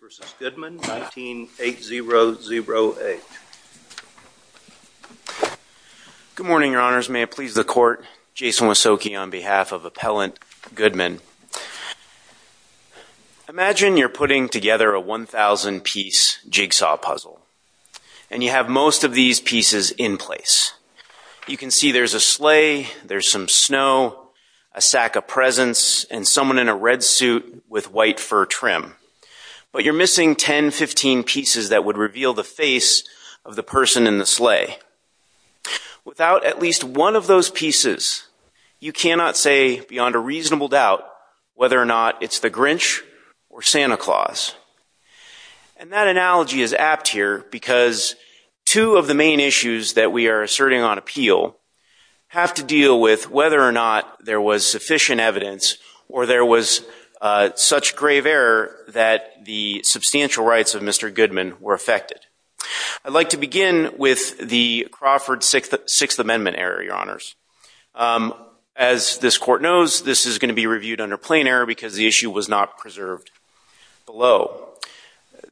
19-8008. Good morning, your honors. May it please the court, Jason Wasokey on behalf of Appellant Goodman. Imagine you're putting together a 1,000-piece jigsaw puzzle, and you have most of these pieces in place. You can see there's a sleigh, there's some snow, a sack of presents, and someone in a red suit with white fur trim. But you're missing 10, 15 pieces that would reveal the face of the person in the sleigh. Without at least one of those pieces, you cannot say beyond a reasonable doubt whether or not it's the Grinch or Santa Claus. And that analogy is apt here because two of the main issues that we are asserting on appeal have to deal with whether or not there was sufficient evidence or there was such grave error that the substantial rights of Mr. Goodman were affected. I'd like to begin with the Crawford Sixth Amendment error, your honors. As this court knows, this is going to be reviewed under plain error because the issue was not preserved below.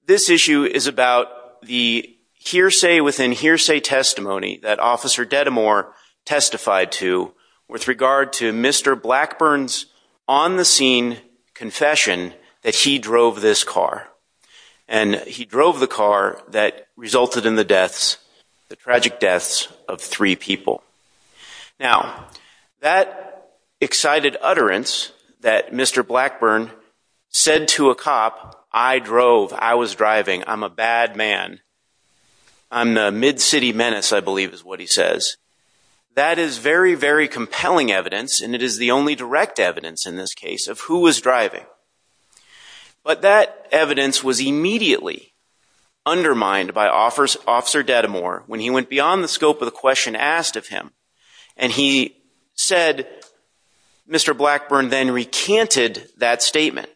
This issue is about the hearsay within hearsay testimony that Officer Dedimore testified to with regard to Mr. Blackburn's on-the-scene confession that he drove this car. And he drove the car that resulted in the deaths, the tragic deaths of three people. Now that excited utterance that Mr. Blackburn said to a cop, I drove, I was driving, I'm a bad man, I'm the mid-city menace, I believe is what he says, that is very, very direct evidence in this case of who was driving. But that evidence was immediately undermined by Officer Dedimore when he went beyond the scope of the question asked of him and he said Mr. Blackburn then recanted that statement.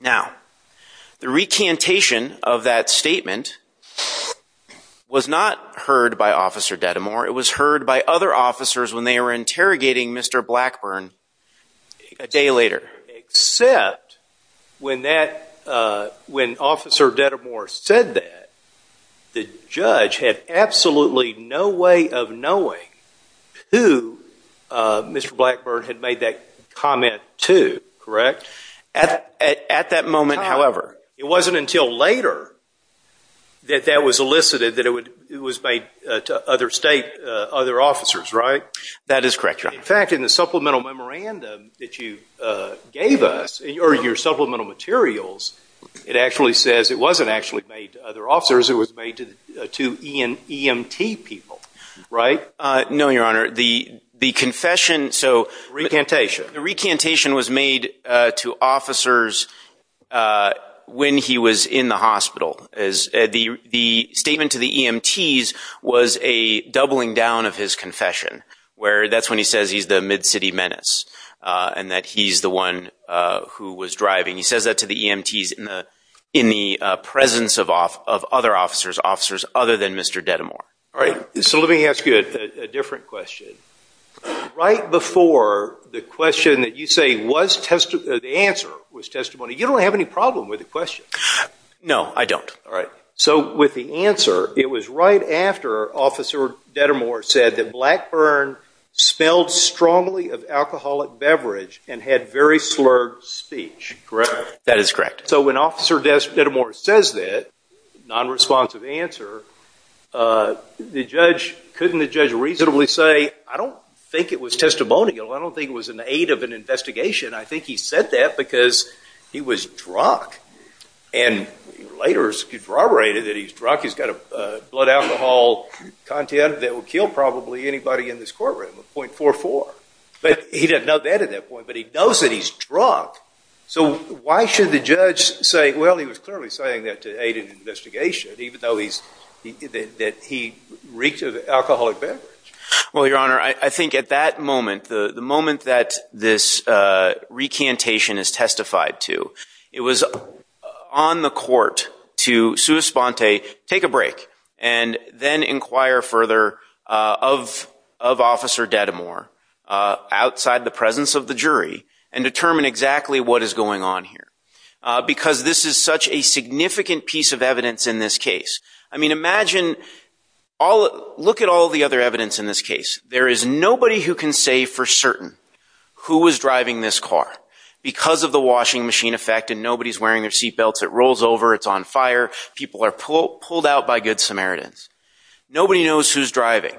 Now the recantation of that statement was not heard by Officer Dedimore, it was heard by other officers when they were interrogating Mr. Blackburn a day later. Except when that, when Officer Dedimore said that, the judge had absolutely no way of knowing who Mr. Blackburn had made that comment to, correct? At that moment, however, it wasn't until later that that was elicited that it was made to other state, other officers, right? That is supplemental memorandum that you gave us, or your supplemental materials, it actually says it wasn't actually made to other officers, it was made to EMT people, right? No, Your Honor, the confession, so recantation, the recantation was made to officers when he was in the hospital. The statement to the EMTs was a doubling down of his confession, where that's when he says he's the Mid-City Menace, and that he's the one who was driving. He says that to the EMTs in the presence of other officers, officers other than Mr. Dedimore. All right, so let me ask you a different question. Right before the question that you say was, the answer was testimony, you don't have any problem with the question. No, I don't. All right, so with the answer, it was right after Officer Dedimore said that Blackburn smelled strongly of alcoholic beverage and had very slurred speech, correct? That is correct. So when Officer Dedimore says that, non-responsive answer, the judge, couldn't the judge reasonably say, I don't think it was testimonial, I don't think it was an aid of an investigation, I think he said that because he was drunk, and later corroborated that he's killed probably anybody in this courtroom, a .44. But he didn't know that at that point, but he knows that he's drunk. So why should the judge say, well he was clearly saying that to aid an investigation, even though he's, that he reeked of alcoholic beverage. Well your honor, I think at that moment, the moment that this recantation is testified to, it was on the court to sue Esponte, take a picture of Officer Dedimore, outside the presence of the jury, and determine exactly what is going on here. Because this is such a significant piece of evidence in this case. I mean imagine, look at all the other evidence in this case. There is nobody who can say for certain who was driving this car, because of the washing machine effect, and nobody's wearing their seatbelts, it rolls over, it's on fire, people are pulled out by Good Samaritans. Nobody knows who's driving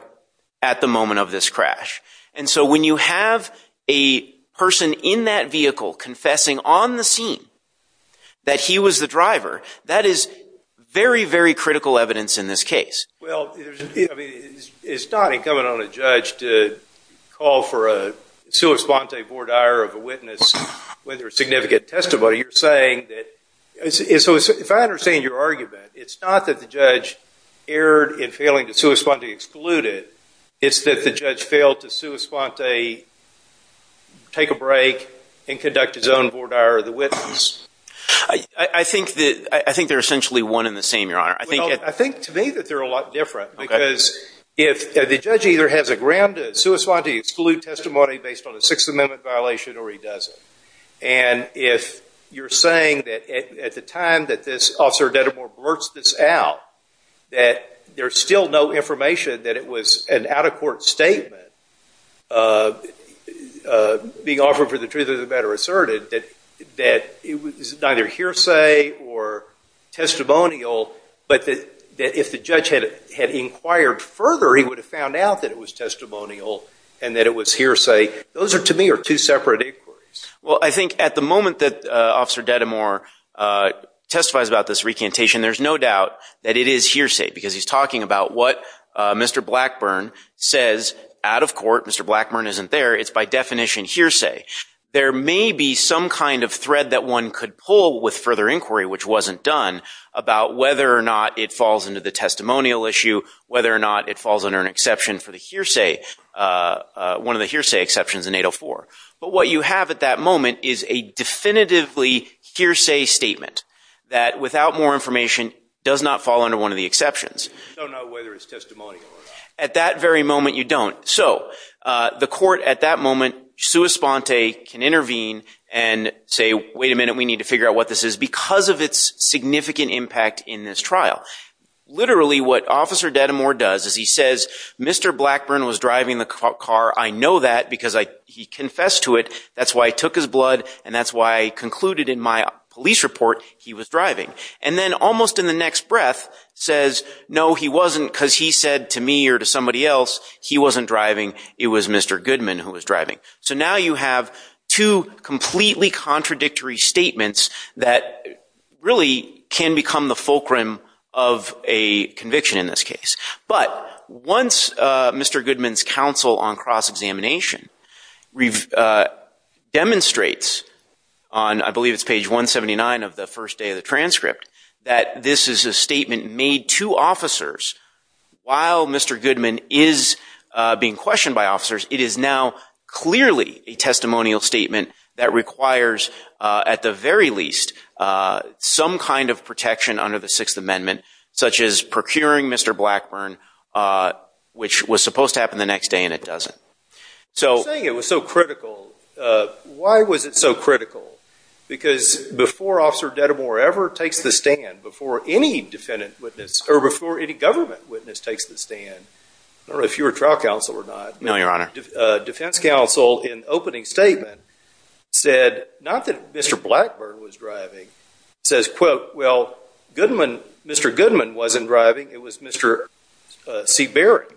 at the moment of this crash. And so when you have a person in that vehicle confessing on the scene that he was the driver, that is very, very critical evidence in this case. Well, it's not incumbent on a judge to call for a sue Esponte board hire of a witness with their significant testimony. You're saying that, if I understand your argument, it's not that the judge erred in failing to sue Esponte, exclude it, it's that the judge failed to sue Esponte, take a break, and conduct his own board hire of the witness. I think that, I think they're essentially one in the same, your honor. I think, I think to me that they're a lot different, because if the judge either has a ground to sue Esponte, exclude testimony based on a Sixth Amendment violation, or he doesn't. And if you're saying that at the time that this Officer Dedimore blurts this out, that there's still no information that it was an out-of-court statement being offered for the truth of the matter asserted, that it was neither hearsay or testimonial, but that if the judge had inquired further, he would have found out that it was testimonial and that it was hearsay. Those are, to me, are two separate inquiries. Well, I think at the moment that Officer Dedimore testifies about this recantation, there's no doubt that it is hearsay, because he's talking about what Mr. Blackburn says out-of-court. Mr. Blackburn isn't there. It's by definition hearsay. There may be some kind of thread that one could pull with further inquiry, which wasn't done, about whether or not it falls into the testimonial issue, whether or not it falls under an exception for the hearsay, one of the hearsay exceptions in 804. But what you have at that moment is a definitively hearsay statement that without more information does not fall under one of the exceptions. At that very moment, you don't. So the court at that moment, sua sponte, can intervene and say, wait a minute, we need to figure out what this is, because of its significant impact in this trial. Literally, what Officer Dedimore does is he says, Mr. Goodman confessed to it, that's why I took his blood, and that's why I concluded in my police report he was driving. And then almost in the next breath says, no he wasn't, because he said to me or to somebody else he wasn't driving, it was Mr. Goodman who was driving. So now you have two completely contradictory statements that really can become the fulcrum of a conviction in this case. But once Mr. Goodman's counsel on demonstrates, on I believe it's page 179 of the first day of the transcript, that this is a statement made to officers, while Mr. Goodman is being questioned by officers, it is now clearly a testimonial statement that requires, at the very least, some kind of protection under the Sixth Amendment, such as procuring Mr. Blackburn, which was supposed to happen the next day and it doesn't. So saying it was so critical, why was it so critical? Because before Officer Dedimore ever takes the stand, before any defendant witness, or before any government witness takes the stand, I don't know if you were trial counsel or not. No, Your Honor. Defense counsel in opening statement said, not that Mr. Blackburn was driving, says quote, well Goodman, Mr. Goodman wasn't driving, it was Mr. Seabury.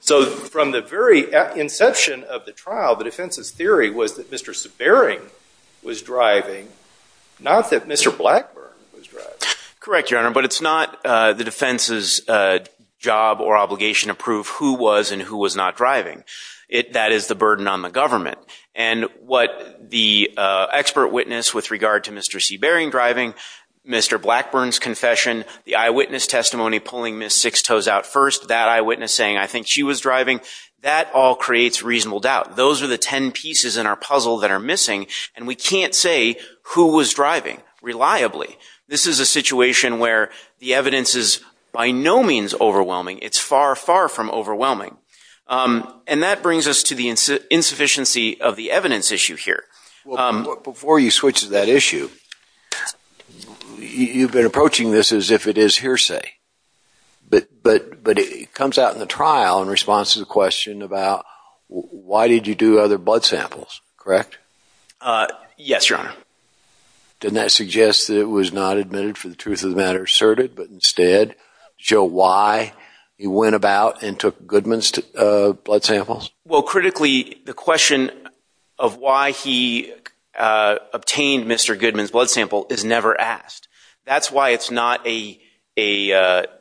So from the very inception of the trial, the defense's theory was that Mr. Seabury was driving, not that Mr. Blackburn was driving. Correct, Your Honor, but it's not the defense's job or obligation to prove who was and who was not driving. It, that is the burden on the government. And what the expert witness with regard to Mr. Seabury driving, Mr. Blackburn's confession, the eyewitness testimony pulling Miss Sixtoes out first, that eyewitness saying I think she was driving, that all creates reasonable doubt. Those are the ten pieces in our puzzle that are missing and we can't say who was driving reliably. This is a situation where the evidence is by no means overwhelming. It's far, far from overwhelming. And that brings us to the insufficiency of the evidence issue here. Before you switch to that issue, you've been approaching this as if it is a hearsay. But, but, but it comes out in the trial in response to the question about why did you do other blood samples, correct? Yes, Your Honor. Didn't that suggest that it was not admitted for the truth of the matter asserted, but instead show why you went about and took Goodman's blood samples? Well, critically, the question of why he obtained Mr. Goodman's blood sample is why it's not a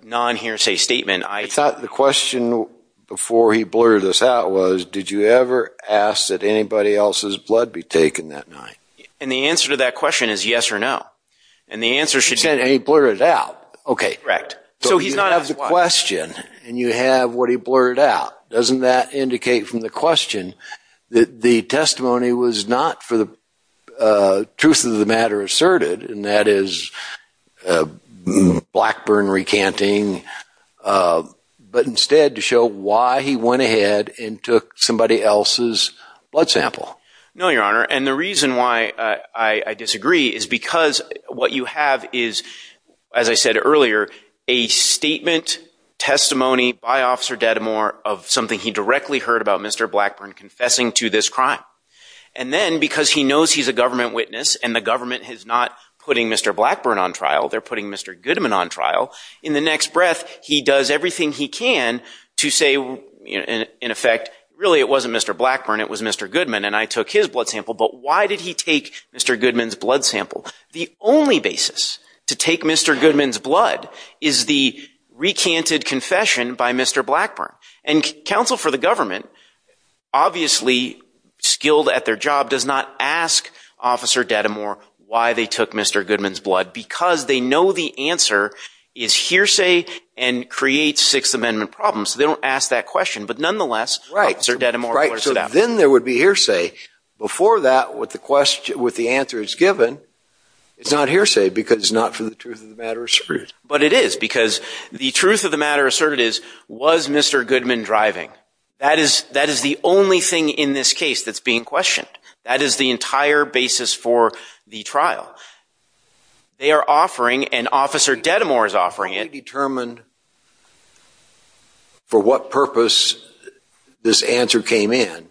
non-hearsay statement. I thought the question before he blurted this out was, did you ever ask that anybody else's blood be taken that night? And the answer to that question is yes or no. And the answer should be... You said he blurted it out. Okay. Correct. So you have the question and you have what he blurted out. Doesn't that indicate from the question that the testimony was not for the truth of the matter asserted, and that is Blackburn recanting, but instead to show why he went ahead and took somebody else's blood sample? No, Your Honor. And the reason why I disagree is because what you have is, as I said earlier, a statement, testimony by Officer Dedamore of something he knows he's a government witness, and the government is not putting Mr. Blackburn on trial. They're putting Mr. Goodman on trial. In the next breath, he does everything he can to say, in effect, really it wasn't Mr. Blackburn. It was Mr. Goodman, and I took his blood sample. But why did he take Mr. Goodman's blood sample? The only basis to take Mr. Goodman's blood is the recanted confession by Mr. Blackburn. And counsel for the government, obviously skilled at their job, does not ask Officer Dedamore why they took Mr. Goodman's blood, because they know the answer is hearsay and creates Sixth Amendment problems. So they don't ask that question, but nonetheless, Officer Dedamore blurted it out. Right, so then there would be hearsay. Before that, what the question, what the answer is given, it's not hearsay, because it's not for the truth of the matter asserted. But it is, because the truth of the matter asserted is, was Mr. Goodman driving? That is, that is the only thing in this case that's being questioned. That is the entire basis for the trial. They are offering, and Officer Dedamore is offering it. To determine for what purpose this answer came in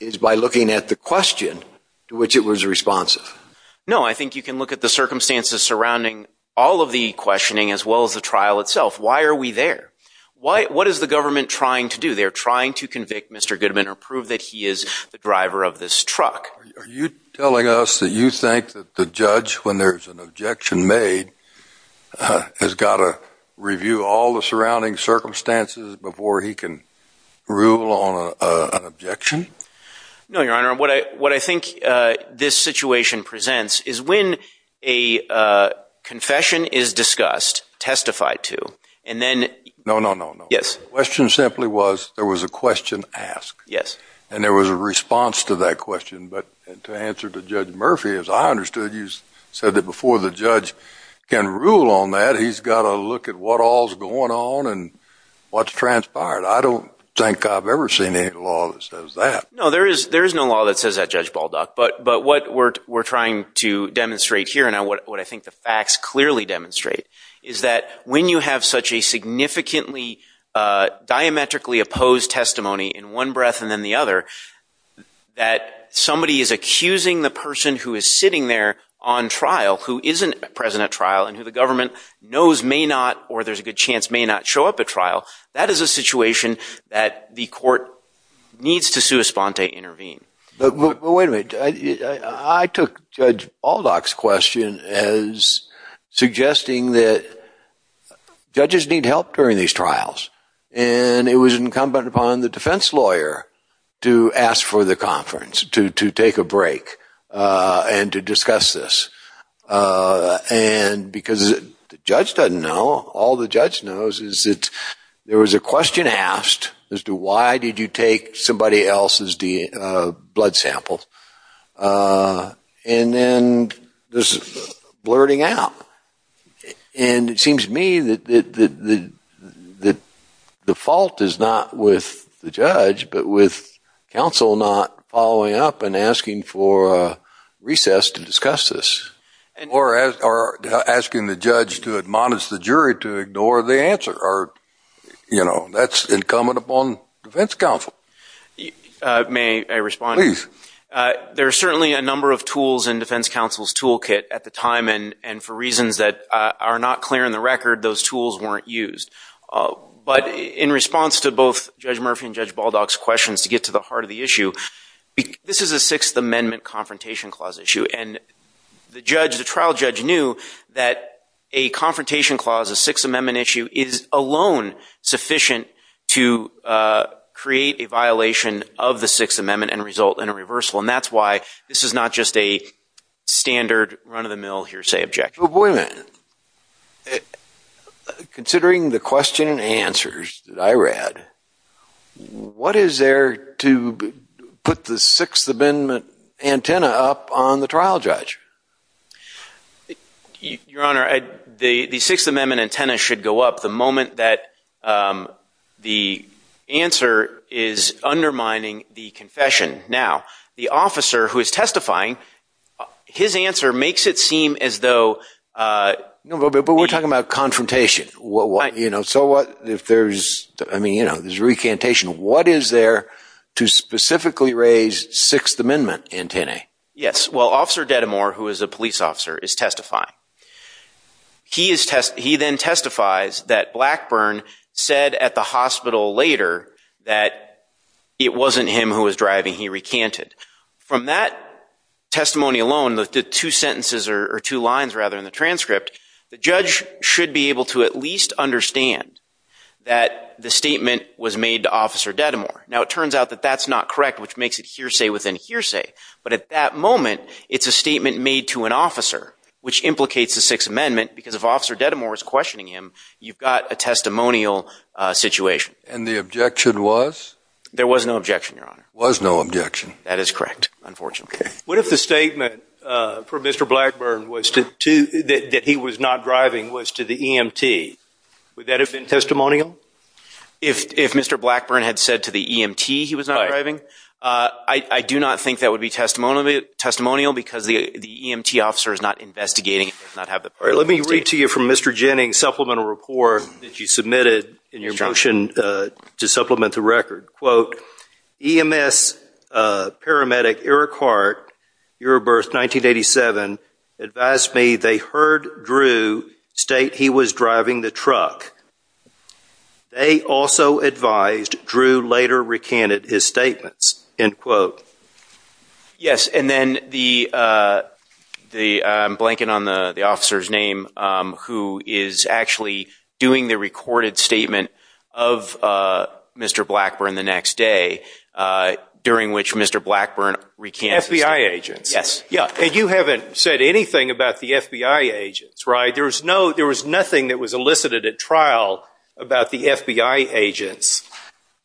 is by looking at the question to which it was responsive. No, I think you can look at the circumstances surrounding all of the questioning, as well as the trial itself. Why are we there? What is the government trying to do? They're trying to convict Mr. Goodman or prove that he is the driver of this truck. Are you telling us that you think that the judge, when there's an objection made, has got to review all the surrounding circumstances before he can rule on an objection? No, Your Honor, what I, what I think this situation presents is when a confession is discussed, testified to, and then... No, no, no. Yes. The question simply was, there was a question asked. Yes. And there was a response to that question, but to answer to Judge Murphy, as I understood, you said that before the judge can rule on that, he's got to look at what all's going on and what's transpired. I don't think I've ever seen any law that says that. No, there is, there is no law that says that, Judge Baldock. But, but what we're, we're trying to demonstrate here, and what I think the facts clearly demonstrate, is that when you have such a significantly diametrically opposed testimony in one breath and then the other, that somebody is accusing the person who is sitting there on trial, who isn't present at trial, and who the government knows may not, or there's a good chance may not, show up at trial, that is a situation that the court needs to sua sponte, intervene. But wait a minute, I took Judge Baldock's question as suggesting that And it was incumbent upon the defense lawyer to ask for the conference, to, to take a break, and to discuss this. And because the judge doesn't know, all the judge knows is that there was a question asked as to why did you take somebody else's blood samples, and then this blurting out. And it seems to me that, that the, the fault is not with the judge, but with counsel not following up and asking for a recess to discuss this. Or asking the judge to admonish the jury to ignore the answer, or you know, that's incumbent upon defense counsel. May I respond? Please. There are certainly a number of tools in defense counsel's toolkit at the time, and, and for reasons that are not clear in the record, those tools weren't used. But in response to both Judge Murphy and Judge Baldock's questions to get to the heart of the issue, this is a Sixth Amendment Confrontation Clause issue. And the judge, the trial judge knew that a confrontation clause, a Sixth Amendment issue, is alone sufficient to create a violation of the Sixth Amendment and result in a reversal. And that's why this is not just a standard run-of-the-mill hearsay objection. Wait a minute. Considering the question and answers that I read, what is there to put the Sixth Amendment antenna up on the trial judge? Your Honor, the, the Sixth Amendment antenna should go up the moment that the answer is undermining the confession. Now, the officer who is testifying, his answer makes it seem as though... No, but we're talking about confrontation. What, you know, so what if there's, I mean, you know, there's recantation. What is there to specifically raise Sixth Amendment antennae? Yes, well, Officer Dedamore, who is a police officer, is testifying. He is test, he then testifies that Blackburn said at the hospital later that it wasn't him who was driving, he recanted. From that two sentences, or two lines rather, in the transcript, the judge should be able to at least understand that the statement was made to Officer Dedamore. Now, it turns out that that's not correct, which makes it hearsay within hearsay. But at that moment, it's a statement made to an officer, which implicates the Sixth Amendment, because if Officer Dedamore is questioning him, you've got a testimonial situation. And the objection was? There was no objection, Your Honor. Was no objection. That is correct, unfortunately. What if the statement from Mr. Blackburn was to, that he was not driving, was to the EMT? Would that have been testimonial? If Mr. Blackburn had said to the EMT he was not driving? I do not think that would be testimonial, because the EMT officer is not investigating. Let me read to you from Mr. Jennings' supplemental report that you submitted in your motion to supplement the record. Quote, EMS paramedic Eric Hart, year of birth 1987, advised me they heard Drew state he was driving the truck. They also advised Drew later recanted his statements. End quote. Yes, and then the, I'm blanking on the officer's name, who is actually doing the recorded statement of Mr. Blackburn the next day, during which Mr. Blackburn recanted. FBI agents. Yes. Yeah, and you haven't said anything about the FBI agents, right? There was no, there was nothing that was elicited at trial about the FBI agents,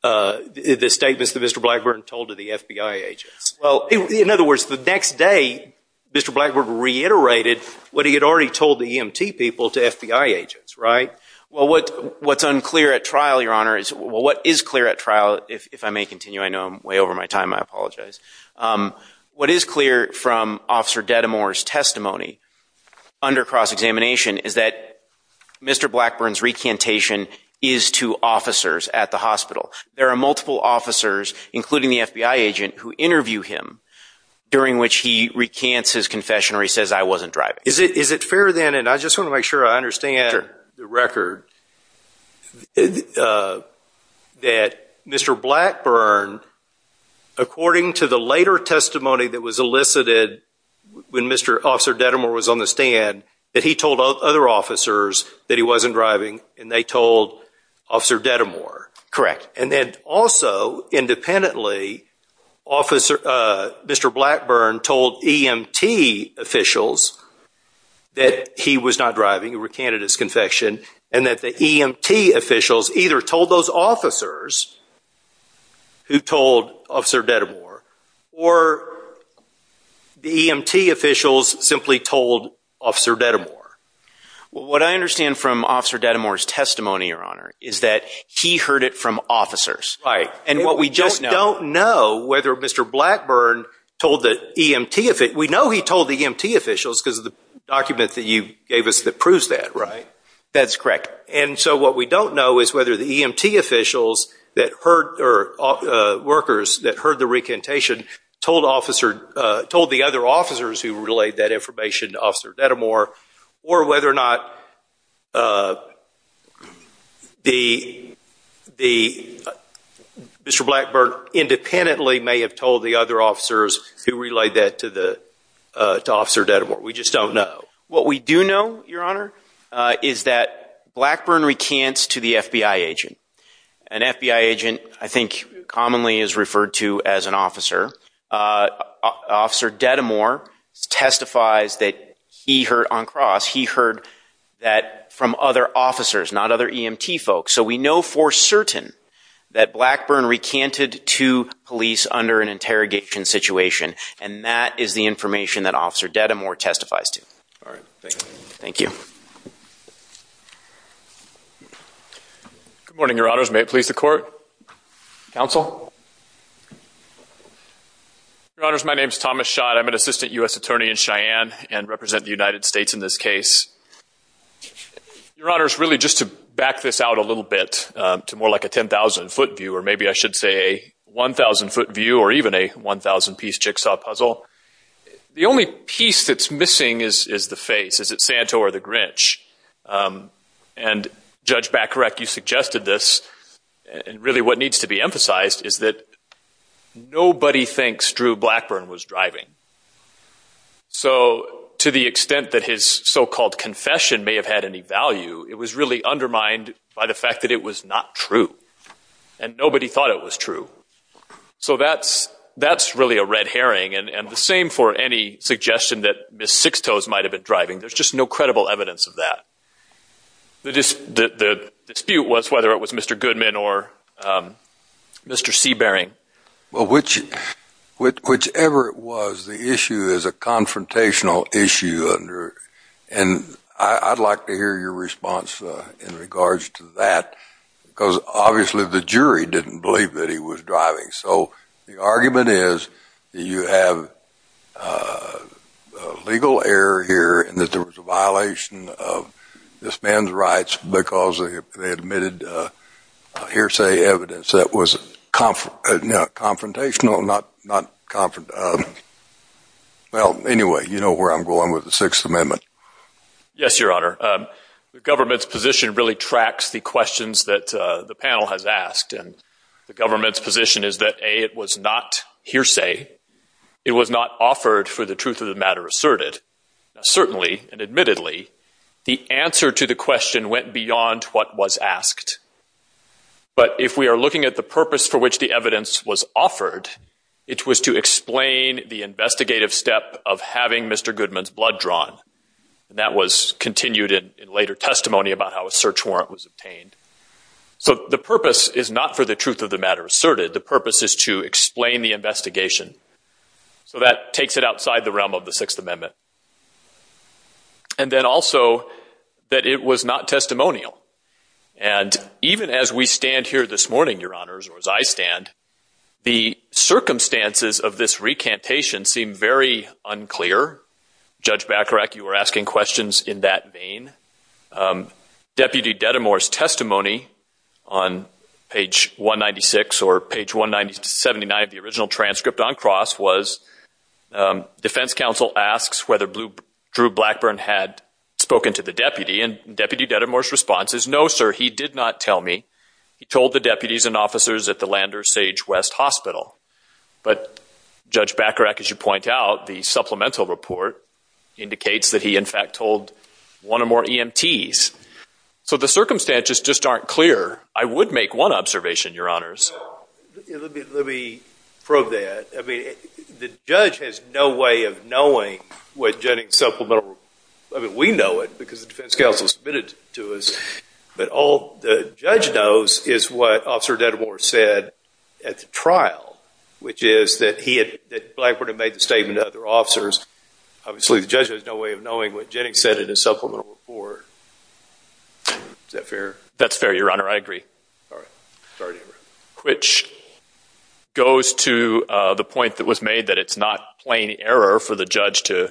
the statements that Mr. Blackburn told to the FBI agents. Well, in other words, the next day Mr. Blackburn reiterated what he had already told the EMT people to FBI agents, right? Well, what's unclear at trial, your honor, is what is clear at trial, if I may continue, I know I'm way over my time, I apologize. What is clear from Officer Dedamore's testimony under cross-examination is that Mr. Blackburn's recantation is to officers at the hospital. There are multiple officers, including the FBI agent, who interview him during which he recants his confession, or he says I wasn't driving. Is it fair then, and I just want to make sure I understand the record, that Mr. Blackburn, according to the later testimony that was elicited when Mr. Officer Dedamore was on the stand, that he told other officers that he wasn't driving, and they told Officer Dedamore. Correct. And then also, independently, Officer, uh, Mr. Blackburn told EMT officials that he was not driving, he recanted his confession, and that the EMT officials either told those officers who told Officer Dedamore, or the EMT officials simply told Officer Dedamore. What I understand from Officer Dedamore's testimony, your honor, is that he heard it from officers. Right. And what we just don't know, whether Mr. Blackburn told the EMT, we know he told the EMT officials, because of the document that you gave us that proves that, right? That's correct. And so what we don't know is whether the EMT officials that heard, or workers that heard the recantation, told officer, told the other officers who relayed that the, Mr. Blackburn independently may have told the other officers who relayed that to the, uh, to Officer Dedamore. We just don't know. What we do know, your honor, uh, is that Blackburn recants to the FBI agent. An FBI agent, I think, commonly is referred to as an officer. Uh, Officer Dedamore testifies that he heard on cross, he heard that from other officers, not other EMT folks. So we know for certain that Blackburn recanted to police under an interrogation situation. And that is the information that Officer Dedamore testifies to. All right. Thank you. Good morning, your honors. May it please the court? Counsel? Your honors, my name's Thomas Schott. I'm an assistant U.S. attorney in Cheyenne and represent the United States in this case. Your honors, really just to back this out a little bit, um, to more like a 10,000 foot view, or maybe I should say a 1000 foot view or even a 1000 piece jigsaw puzzle. The only piece that's missing is, is the face. Is it Santo or the Grinch? Um, and Judge Bacarek, you suggested this and really what needs to be emphasized is that nobody thinks Drew Blackburn was driving. So to the extent that his so-called confession may have had any value, it was really undermined by the fact that it was not true. And nobody thought it was true. So that's, that's really a red herring. And the same for any suggestion that Miss Sixtoes might've been driving. There's just no credible evidence of that. The dispute was whether it was Mr. Goodman or, um, Mr. Seabaring. Well, whichever it was, the issue is a confrontational issue under, and I'd like to hear your response in regards to that because obviously the jury didn't believe that he was driving. So the argument is that you have a legal error here and that there was a violation of this man's rights because they admitted hearsay evidence that was confrontational, not, not confront, um, well, anyway, you know where I'm going with the Sixth Amendment. Yes, Your Honor. The government's position really tracks the questions that the panel has asked and the government's position is that A, it was not hearsay. It was not offered for the truth of the matter asserted. Certainly and admittedly, the answer to the question went beyond what was asked. But if we are looking at the purpose for which the evidence was offered, it was to explain the investigative step of having Mr. Goodman's blood drawn. And that was continued in later testimony about how a search warrant was obtained. So the purpose is not for the truth of the matter asserted. The purpose is to explain the investigation. So that takes it outside the realm of the Sixth Amendment. And then also that it was not testimonial. And even as we stand here this morning, Your Honors, or as I stand, the circumstances of this recantation seem very unclear. Judge Bacharach, you were asking questions in that vein. Deputy Dedemore's testimony on page 196 or page 179 of the original transcript on cross was defense counsel asks whether Drew Blackburn had spoken to the deputy. And Deputy Dedemore's response is, no sir, he did not tell me. He told the deputies and officers at the Lander Sage West Hospital. But Judge Bacharach, as you point out, the supplemental report indicates that he in fact told one or more EMTs. So the circumstances just aren't clear. I would make one observation, Your Honors. Let me probe that. I mean, the judge has no way of knowing what Jennings' supplemental report. I mean, we know it because the defense counsel submitted it to us. But all the judge knows is what Officer Dedemore said at the trial, which is that he had, that Blackburn had made the statement to other officers. Obviously, the judge has no way of knowing what Jennings said in his supplemental report. Is that fair? That's fair, Your Honor. I agree. Which goes to the point that was made that it's not plain error for the judge to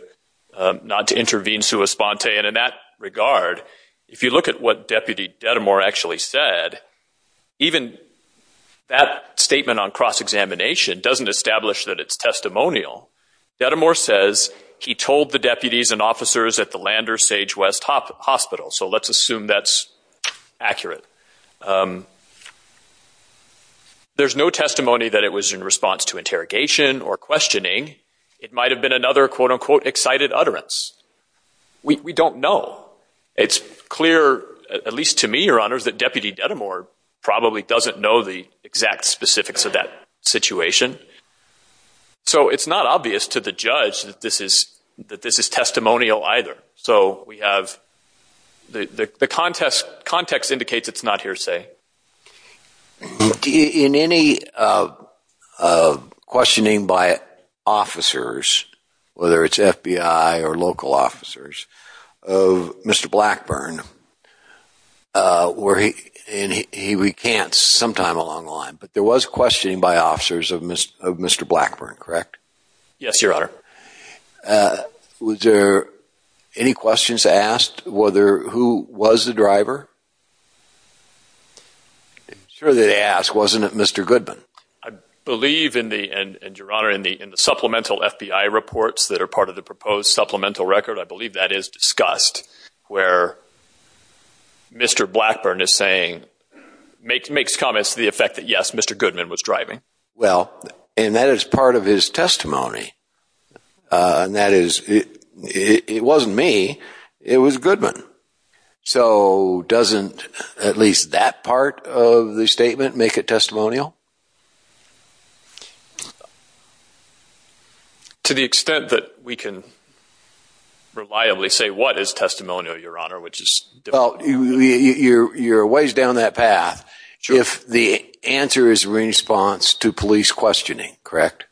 not to intervene sui sponte. And in that regard, if you look at what Deputy Dedemore actually said, even that statement on cross-examination doesn't establish that it's testimonial. Dedemore says he told the deputies and officers at the Lander Sage West Hospital. So let's assume that's accurate. There's no testimony that it was in response to interrogation or questioning. It might have been another quote-unquote excited utterance. We don't know. It's clear, at least to me, Your Honors, that Deputy Dedemore probably doesn't know the exact specifics of that situation. So it's not obvious to the context indicates it's not hearsay. In any questioning by officers, whether it's FBI or local officers, of Mr. Blackburn, and we can't sometime along the line, but there was questioning by officers of Mr. Blackburn, correct? Yes, Your Honor. Was there any questions asked whether who was the driver? I'm sure they asked, wasn't it Mr. Goodman? I believe in the, and Your Honor, in the supplemental FBI reports that are part of the proposed supplemental record, I believe that is discussed where Mr. Blackburn is saying, makes comments to the effect that yes, Mr. Goodman was driving. Well, and that is part of his testimony. And that is, it wasn't me, it was Goodman. So doesn't at least that part of the statement make it testimonial? To the extent that we can reliably say what is testimonial, Your Honor, which is... Well, you're a ways down that path. If the answer is response to police questioning, correct?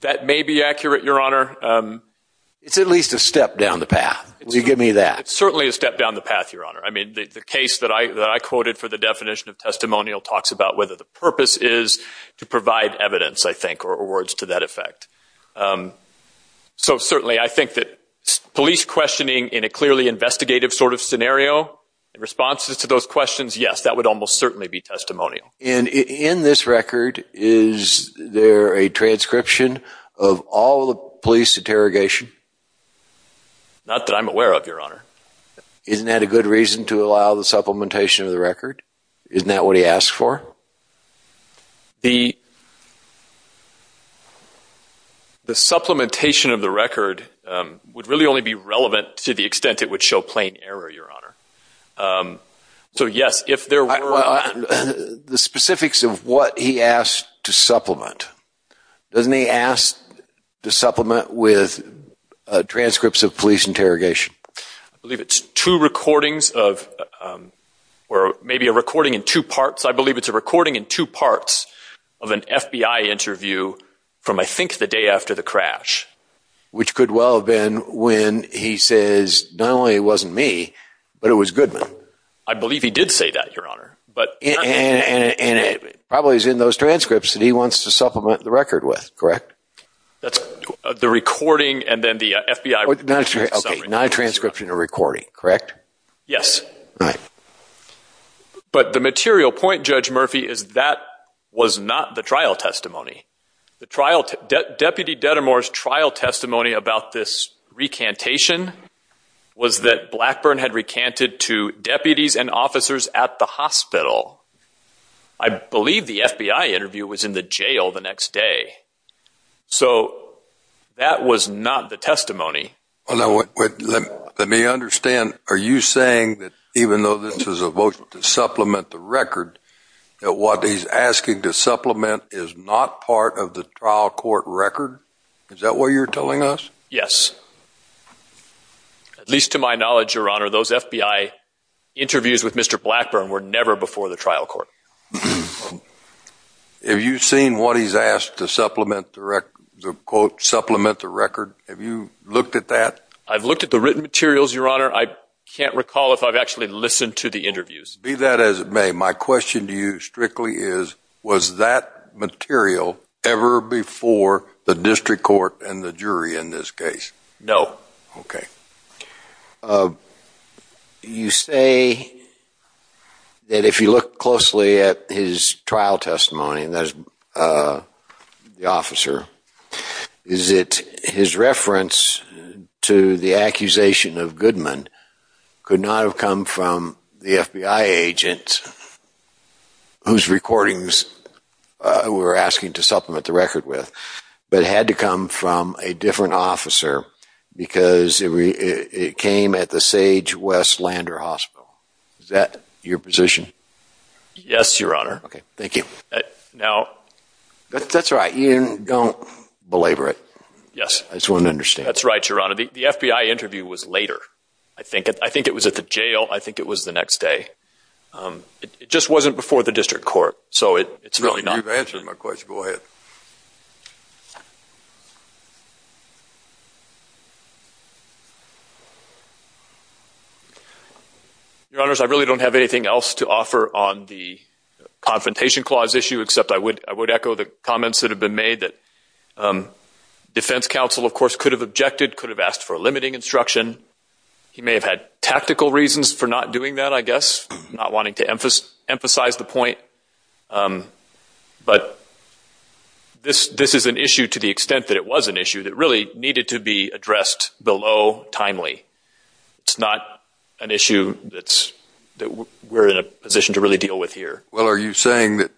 That may be accurate, Your Honor. It's at least a step down the path. Will you give me that? It's certainly a step down the path, Your Honor. I mean, the case that I quoted for the definition of testimonial talks about whether the purpose is to provide evidence, I think, or words to that effect. So certainly, I think that police questioning in a clearly investigative sort of scenario, responses to those questions, yes, that would almost certainly be testimonial. And in this record, is there a transcription of all the police interrogation? Not that I'm aware of, Your Honor. Isn't that a good reason to allow the supplementation of the record? Isn't that what he asked for? The supplementation of the record would really only be relevant to the extent it would show plain error, Your Honor. So yes, if there were... The specifics of what he asked to supplement, doesn't he ask to supplement with transcripts of police interrogation? I believe it's two recordings of, or maybe a recording in two parts. I believe it's a recording in two parts of an FBI interview from, I think, the day after the crash. Which could well have been when he says, not only it wasn't me, but it was Goodman. I believe he did say that, Your Honor. And it probably is in those transcripts that he wants to supplement the record with, correct? The recording and then the FBI... Okay, not a transcription, a but the material point, Judge Murphy, is that was not the trial testimony. The trial... Deputy Dedamore's trial testimony about this recantation was that Blackburn had recanted to deputies and officers at the hospital. I believe the FBI interview was in the jail the next day. So that was not the testimony. Well now, let me understand. Are you saying that even though this is a vote to supplement the record, that what he's asking to supplement is not part of the trial court record? Is that what you're telling us? Yes. At least to my knowledge, Your Honor, those FBI interviews with Mr. Blackburn were never before the trial court. Have you seen what he's asked to supplement the record, the quote, I've looked at the written materials, Your Honor. I can't recall if I've actually listened to the interviews. Be that as it may, my question to you strictly is, was that material ever before the district court and the jury in this case? No. Okay. You say that if you look closely at his trial testimony, that is the officer, is it his reference to the accusation of Goodman could not have come from the FBI agent whose recordings we were asking to supplement the record with, but had to come from a different officer because it came at the Sage West Lander Hospital. Is that your position? Yes, Your Honor. Okay. Thank you. Now, that's right. You don't belabor it. Yes. I just want to understand. That's right, Your Honor. The FBI interview was later, I think. I think it was at the jail. I think it was the next day. It just wasn't before the district court, so it's really not. You've answered my question. Go ahead. Your Honors, I really don't have anything else to offer on the confrontation clause issue, except I would echo the comments that have been made that defense counsel, of course, could have objected, could have asked for a limiting instruction. He may have had tactical reasons for not doing that, I guess, not wanting to emphasize the point. But this is an issue to the extent that it was an issue that really needed to be addressed below timely. It's not an issue that we're in a position to really deal with here. Well, are you saying that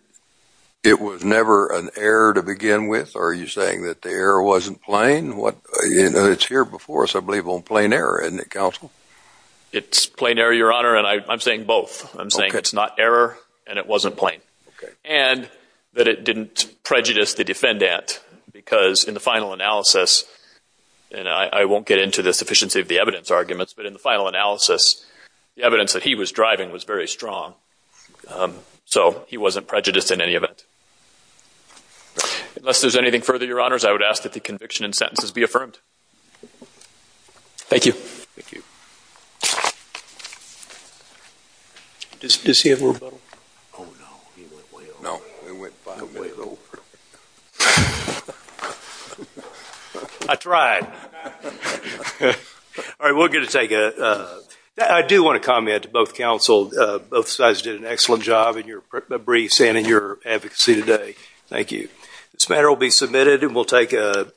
it was never an error to begin with? Are you saying that the error wasn't plain? It's here before us, I believe, on plain error, isn't it, counsel? It's plain error, Your Honor, and I'm saying both. I'm saying it's not error and it wasn't plain. Okay. And that it didn't prejudice the defendant, because in the final analysis, and I won't get into the sufficiency of the evidence arguments, but in the final analysis, the evidence that he was strong. So he wasn't prejudiced in any event. Unless there's anything further, Your Honors, I would ask that the conviction and sentences be affirmed. Thank you. I tried. All right, we're gonna take a... I do want to comment to both counsel. Both sides did an excellent job in your briefs and in your advocacy today. Thank you. This matter will be submitted and we'll take a...